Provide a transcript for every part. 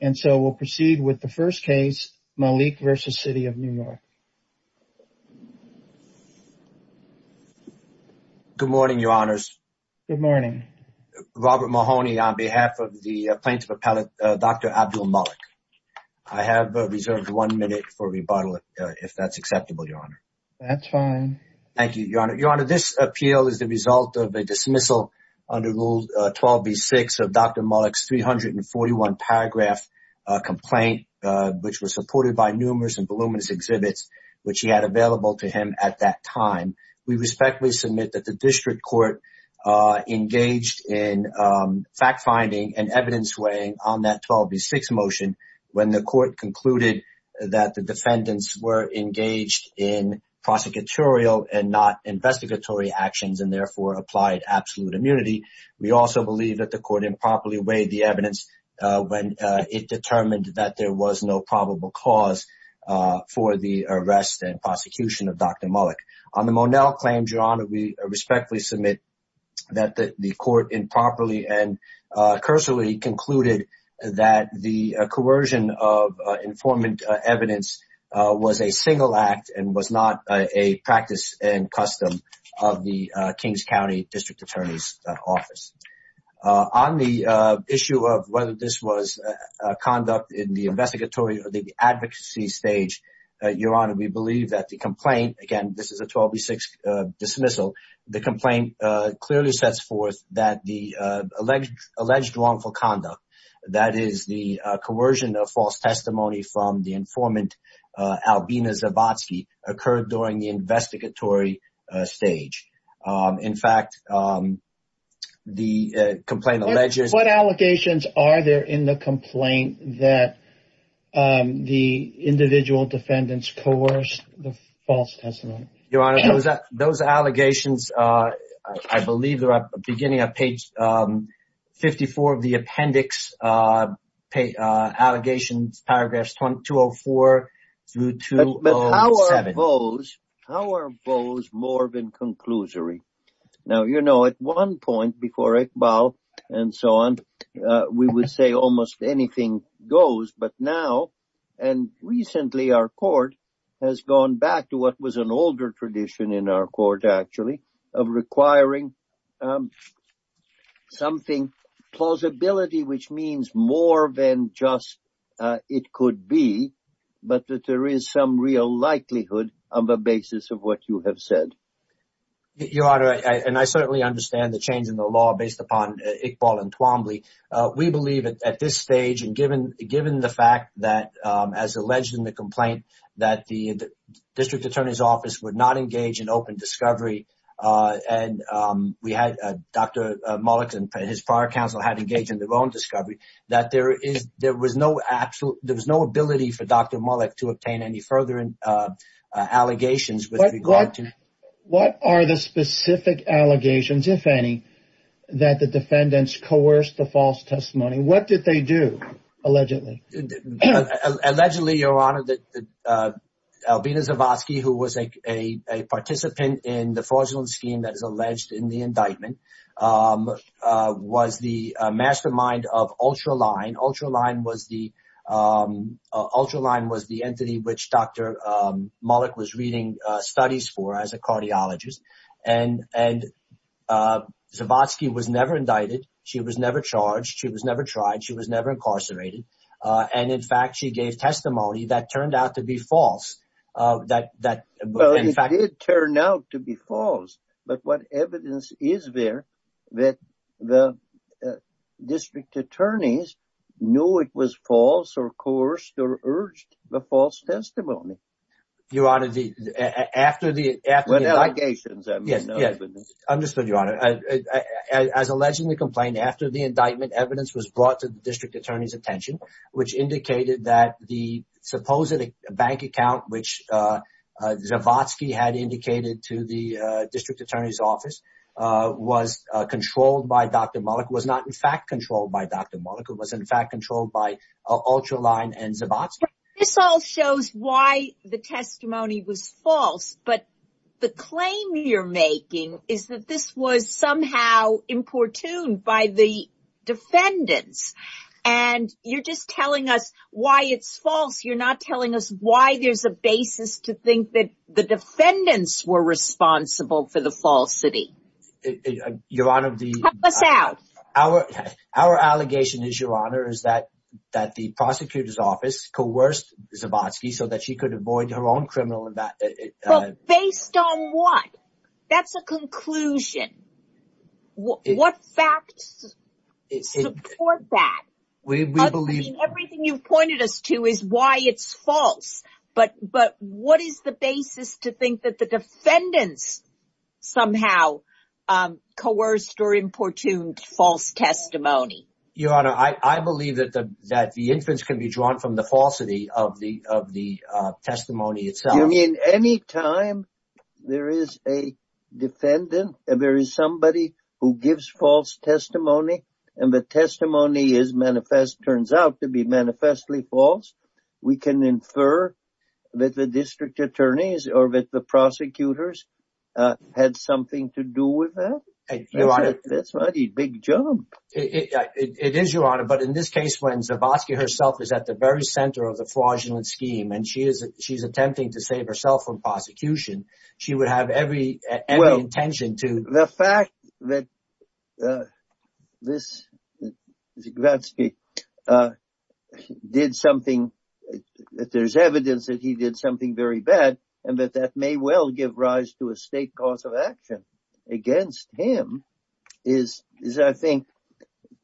And so we'll proceed with the first case, Malik v. City of New York. Good morning, Your Honors. Good morning. Robert Mahoney on behalf of the plaintiff appellate, Dr. Abdul-Malik. I have reserved one minute for rebuttal, if that's acceptable, Your Honor. That's fine. Thank you, Your Honor. Your Honor, this appeal is the result of a dismissal under Rule 12b-6 of Dr. Malik's 341-paragraph complaint, which was supported by numerous and voluminous exhibits, which he had available to him at that time. We respectfully submit that the district court engaged in fact-finding and evidence-weighing on that 12b-6 motion when the court concluded that the defendants were engaged in prosecutorial and not investigatory actions and therefore applied absolute immunity. We also believe that the court improperly weighed the evidence when it determined that there was no probable cause for the arrest and prosecution of Dr. Malik. On the Monell claim, Your Honor, we respectfully submit that the court improperly and cursory concluded that the coercion of informant evidence was a single act and was not a practice and custom of the Kings County District Attorney's Office. On the issue of whether this was conduct in the investigatory or the advocacy stage, Your Honor, we believe that the complaint, again, this is a 12b-6 dismissal, the complaint clearly sets forth that the alleged wrongful conduct, that is the coercion of false testimony from the informant Albina Zabotsky, occurred during the investigatory stage. In fact, the complaint alleges... What allegations are there in the complaint that the individual defendants coerced the false testimony? Your Honor, those allegations, I believe they're at the beginning of page 54 of the appendix, allegations, paragraphs 204 through 207. But how are those more than conclusory? Now, you know, at one point before Iqbal and so on, we would say almost anything goes, but now, and recently, our court has gone back to what was an older tradition in our court, actually, of requiring something, plausibility, which means more than just it could be, but that there is some real likelihood on the basis of what you have said. Your Honor, and I certainly understand the change in the law based upon Iqbal and Twombly. We believe at this stage, and given the fact that, as alleged in the complaint, that the district attorney's office would not engage in open discovery, and Dr. Mullick and his prior counsel had engaged in their own discovery, that there was no ability for Dr. Mullick to obtain any further allegations with regard to... What are the specific allegations, if any, that the defendants coerced the false testimony? What did they do, allegedly? Allegedly, Your Honor, that Albina Zavadsky, who was a participant in the fraudulent scheme that is alleged in the indictment, was the mastermind of Ultraline. Ultraline was the entity which Dr. Mullick was reading studies for as a cardiologist. And Zavadsky was never indicted. She was never charged. She was never tried. She was never incarcerated. And, in fact, she gave testimony that turned out to be false. Well, it did turn out to be false. But what evidence is there that the district attorneys knew it was false, or coerced, or urged the false testimony? Your Honor, after the... The allegations, I mean. Yes, understood, Your Honor. As alleged in the complaint, after the indictment, evidence was brought to the district attorney's attention, which indicated that the supposed bank account, which Zavadsky had indicated to the district attorney's office, was controlled by Dr. Mullick. It was not, in fact, controlled by Dr. Mullick. It was, in fact, controlled by Ultraline and Zavadsky. This all shows why the testimony was false. But the claim you're making is that this was somehow importuned by the defendants. And you're just telling us why it's false. You're not telling us why there's a basis to think that the defendants were responsible for the falsity. Your Honor, the... Tell us out. Our allegation is, Your Honor, is that the prosecutor's office coerced Zavadsky so that she could avoid her own criminal... Based on what? That's a conclusion. What facts support that? We believe... Everything you've pointed us to is why it's false. But what is the basis to think that the defendants somehow coerced or importuned false testimony? Your Honor, I believe that the inference can be drawn from the falsity of the testimony itself. You mean any time there is a defendant and there is somebody who gives false testimony and the testimony is manifest, turns out to be manifestly false, we can infer that the district attorneys or that the prosecutors had something to do with that? Your Honor... That's a mighty big jump. It is, Your Honor, but in this case when Zavadsky herself is at the very center of the fraudulent scheme and she's attempting to save herself from prosecution, she would have every intention to... The fact that this... Zavadsky did something... There's evidence that he did something very bad and that that may well give rise to a state cause of action against him is, I think,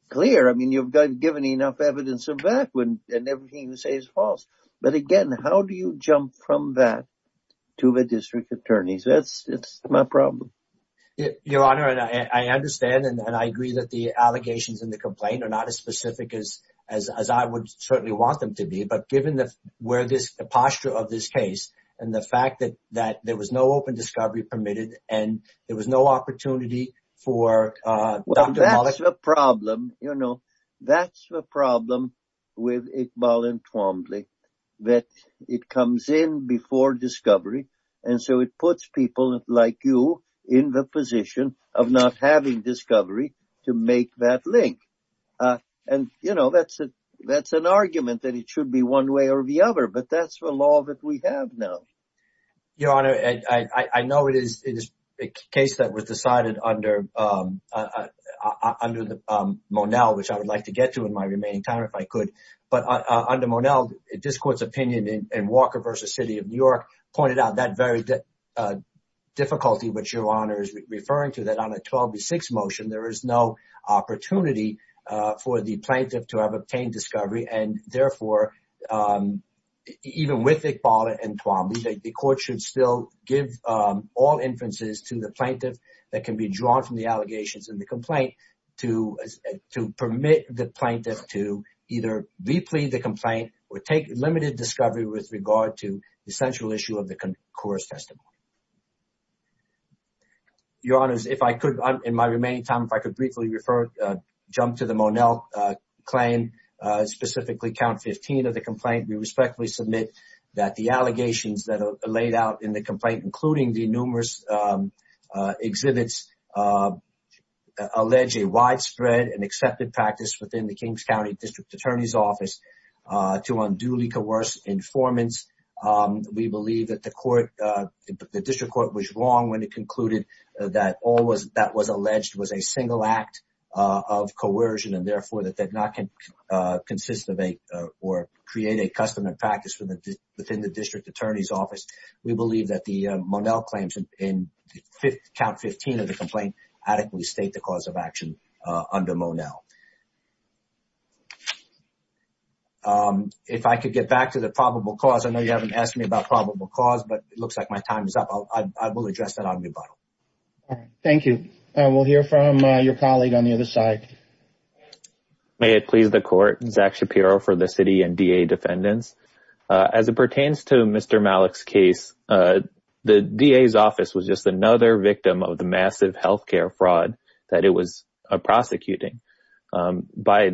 clear. I mean, you've given enough evidence of that and everything you say is false. But again, how do you jump from that to the district attorneys? That's my problem. Your Honor, I understand and I agree that the allegations in the complaint are not as specific as I would certainly want them to be, but given the posture of this case and the fact that there was no open discovery permitted and there was no opportunity for Dr. Mollick... That's the problem, you know. That's the problem with Iqbal and Twombly, that it comes in before discovery and so it puts people like you in the position of not having discovery to make that link. And, you know, that's an argument that it should be one way or the other, but that's the law that we have now. Your Honor, I know it is a case that was decided under Monell, which I would like to get to in my remaining time if I could. But under Monell, this Court's opinion in Walker v. City of New York pointed out that very difficulty, which Your Honor is referring to, that on a 12 v. 6 motion, there is no opportunity for the plaintiff to have obtained discovery and, therefore, even with Iqbal and Twombly, the Court should still give all inferences to the plaintiff that can be drawn from the allegations in the complaint to permit the plaintiff to either re-plead the complaint or take limited discovery with regard to the central issue of the court's testimony. Your Honor, in my remaining time, if I could briefly jump to the Monell claim, specifically count 15 of the complaint, we respectfully submit that the allegations that are laid out in the complaint, including the numerous exhibits, allege a widespread and accepted practice within the Kings County District Attorney's Office to unduly coerce informants. We believe that the District Court was wrong when it concluded that all that was alleged was a single act of coercion and, therefore, that did not consist of or create a customary practice within the District Attorney's Office. We believe that the Monell claims in count 15 of the complaint adequately state the cause of action under Monell. If I could get back to the probable cause, I know you haven't asked me about probable cause, but it looks like my time is up. I will address that on rebuttal. Thank you. We'll hear from your colleague on the other side. May it please the Court, Zach Shapiro for the City and DA defendants. As it pertains to Mr. Malik's case, the DA's office was just another victim of the massive health care fraud that it was prosecuting. By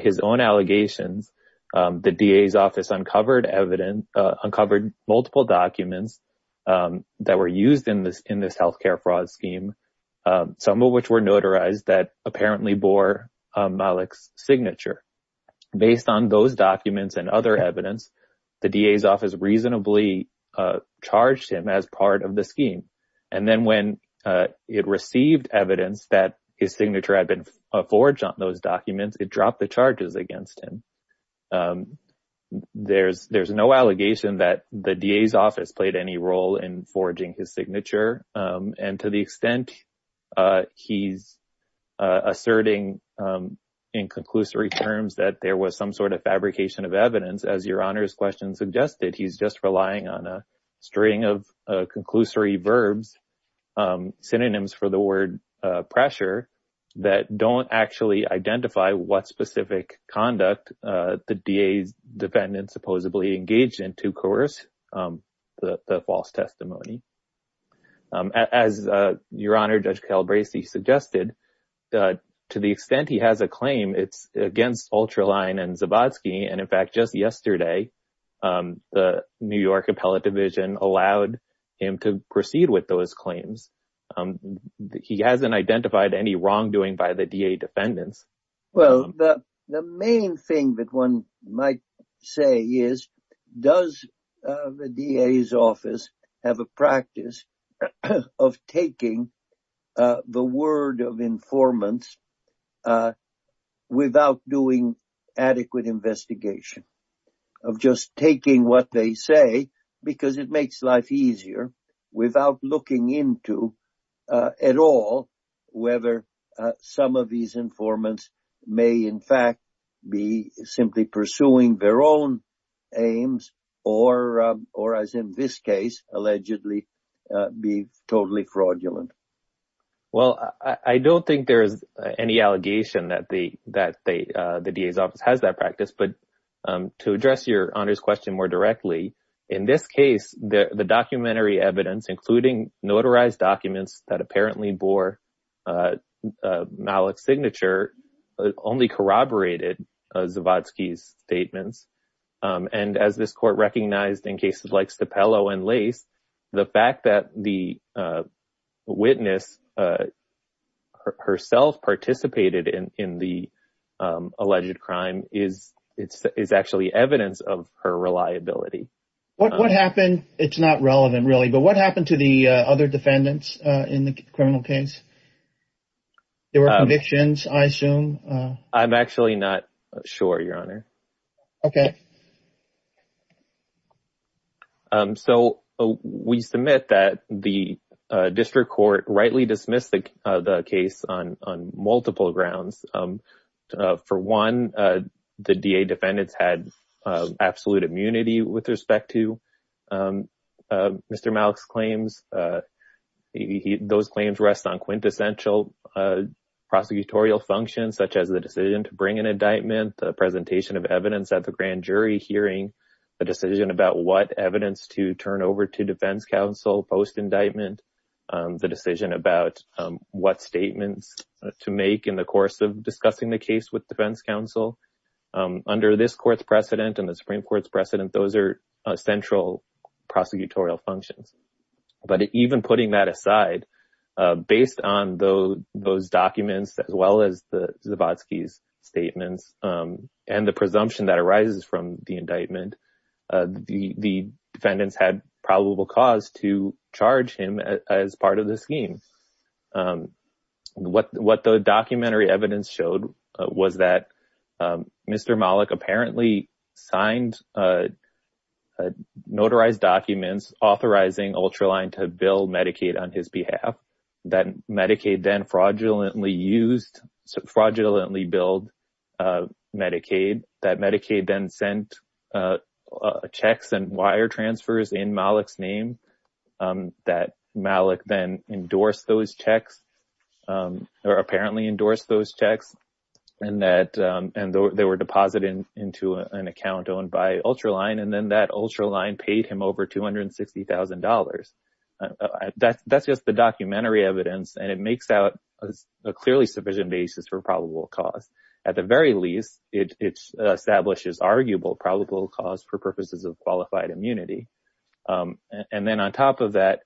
his own allegations, the DA's office uncovered multiple documents that were used in this health care fraud scheme, some of which were notarized that apparently bore Malik's signature. Based on those documents and other evidence, the DA's office reasonably charged him as part of the scheme. And then when it received evidence that his signature had been forged on those documents, it dropped the charges against him. There's no allegation that the DA's office played any role in forging his signature. And to the extent he's asserting in conclusory terms that there was some sort of fabrication of evidence, as your Honor's question suggested, he's just relying on a string of conclusory verbs, synonyms for the word pressure, that don't actually identify what specific conduct the DA's defendant supposedly engaged in to coerce the false testimony. As your Honor, Judge Calabresi suggested, to the extent he has a claim, it's against Ultraline and Zabodsky. And in fact, just yesterday, the New York Appellate Division allowed him to proceed with those claims. He hasn't identified any wrongdoing by the DA defendants. Well, the main thing that one might say is, does the DA's office have a practice of taking the word of informants without doing adequate investigation? Of just taking what they say, because it makes life easier, without looking into at all whether some of these informants may in fact be simply pursuing their own aims, or as in this case, allegedly be totally fraudulent. Well, I don't think there is any allegation that the DA's office has that practice. But to address your Honor's question more directly, in this case, the documentary evidence, including notarized documents that apparently bore Malik's signature, only corroborated Zabodsky's statements. And as this court recognized in cases like Stappello and Lace, the fact that the witness herself participated in the alleged crime is actually evidence of her reliability. What happened, it's not relevant really, but what happened to the other defendants in the criminal case? There were convictions, I assume? I'm actually not sure, your Honor. Okay. So, we submit that the district court rightly dismissed the case on multiple grounds. For one, the DA defendants had absolute immunity with respect to Mr. Malik's claims. Those claims rest on quintessential prosecutorial functions, such as the decision to bring an indictment, the presentation of evidence at the grand jury hearing, the decision about what evidence to turn over to defense counsel post-indictment, the decision about what statements to make in the course of discussing the case with defense counsel. Under this court's precedent and the Supreme Court's precedent, those are central prosecutorial functions. But even putting that aside, based on those documents as well as the Zabodsky's statements and the presumption that arises from the indictment, the defendants had probable cause to charge him as part of the scheme. What the documentary evidence showed was that Mr. Malik apparently signed notarized documents authorizing Ultraline to bill Medicaid on his behalf, that Medicaid then fraudulently billed Medicaid, that Medicaid then sent checks and wire transfers in Malik's name, that Malik then endorsed those checks, or apparently endorsed those checks, and that they were deposited into an account owned by Ultraline, and then that Ultraline paid him over $260,000. That's just the documentary evidence, and it makes out a clearly sufficient basis for probable cause. At the very least, it establishes arguable probable cause for purposes of qualified immunity. And then on top of that,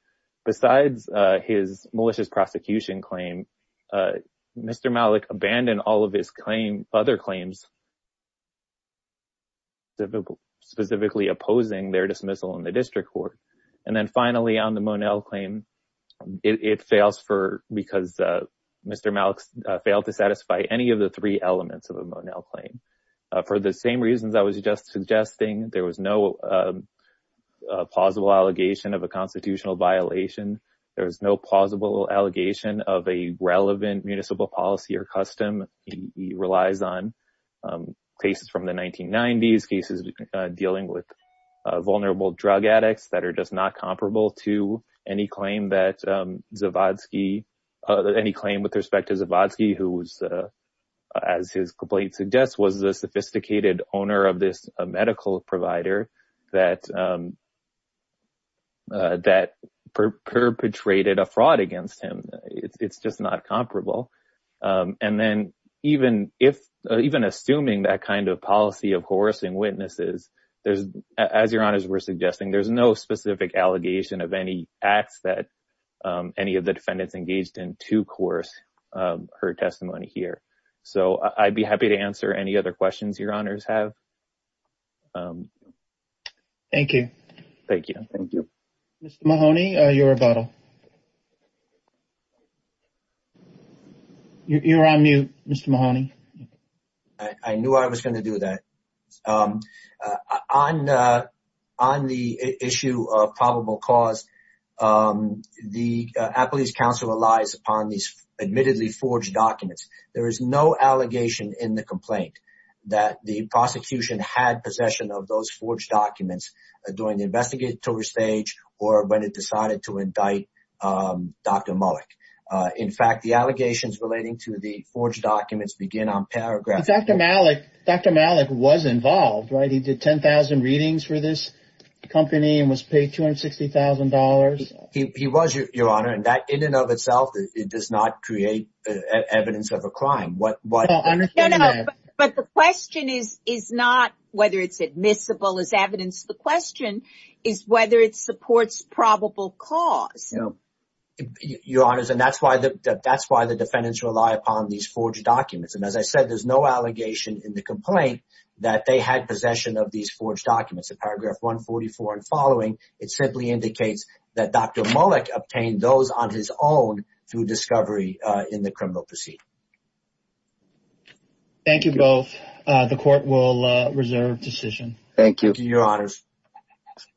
besides his malicious prosecution claim, Mr. Malik abandoned all of his other claims, specifically opposing their dismissal in the district court. And then finally, on the Monell claim, it fails because Mr. Malik failed to satisfy any of the three elements of the Monell claim. For the same reasons I was just suggesting, there was no plausible allegation of a constitutional violation. There was no plausible allegation of a relevant municipal policy or custom. He relies on cases from the 1990s, cases dealing with vulnerable drug addicts that are just not comparable to any claim that Zawadzki, any claim with respect to Zawadzki, who was, as his complaint suggests, was the sophisticated owner of this medical provider that perpetrated a fraud against him. It's just not comparable. And then even assuming that kind of policy of coercing witnesses, as Your Honors were suggesting, there's no specific allegation of any acts that any of the defendants engaged in to coerce her testimony here. So I'd be happy to answer any other questions Your Honors have. Thank you. Thank you. Mr. Mahoney, your rebuttal. You're on mute, Mr. Mahoney. I knew I was going to do that. On the issue of probable cause, the Appalachian Council relies upon these admittedly forged documents. There is no allegation in the complaint that the prosecution had possession of those forged documents during the investigator stage or when it decided to indict Dr. Malik. In fact, the allegations relating to the forged documents begin on paragraph 4. But Dr. Malik was involved, right? He did 10,000 readings for this company and was paid $260,000. He was, Your Honor, and that in and of itself does not create evidence of a crime. But the question is not whether it's admissible as evidence. The question is whether it supports probable cause. Your Honors, and that's why the defendants rely upon these forged documents. And as I said, there's no allegation in the complaint that they had possession of these forged documents. In paragraph 144 and following, it simply indicates that Dr. Malik obtained those on his own through discovery in the criminal proceeding. Thank you both. The court will reserve decision. Thank you. Thank you, Your Honors.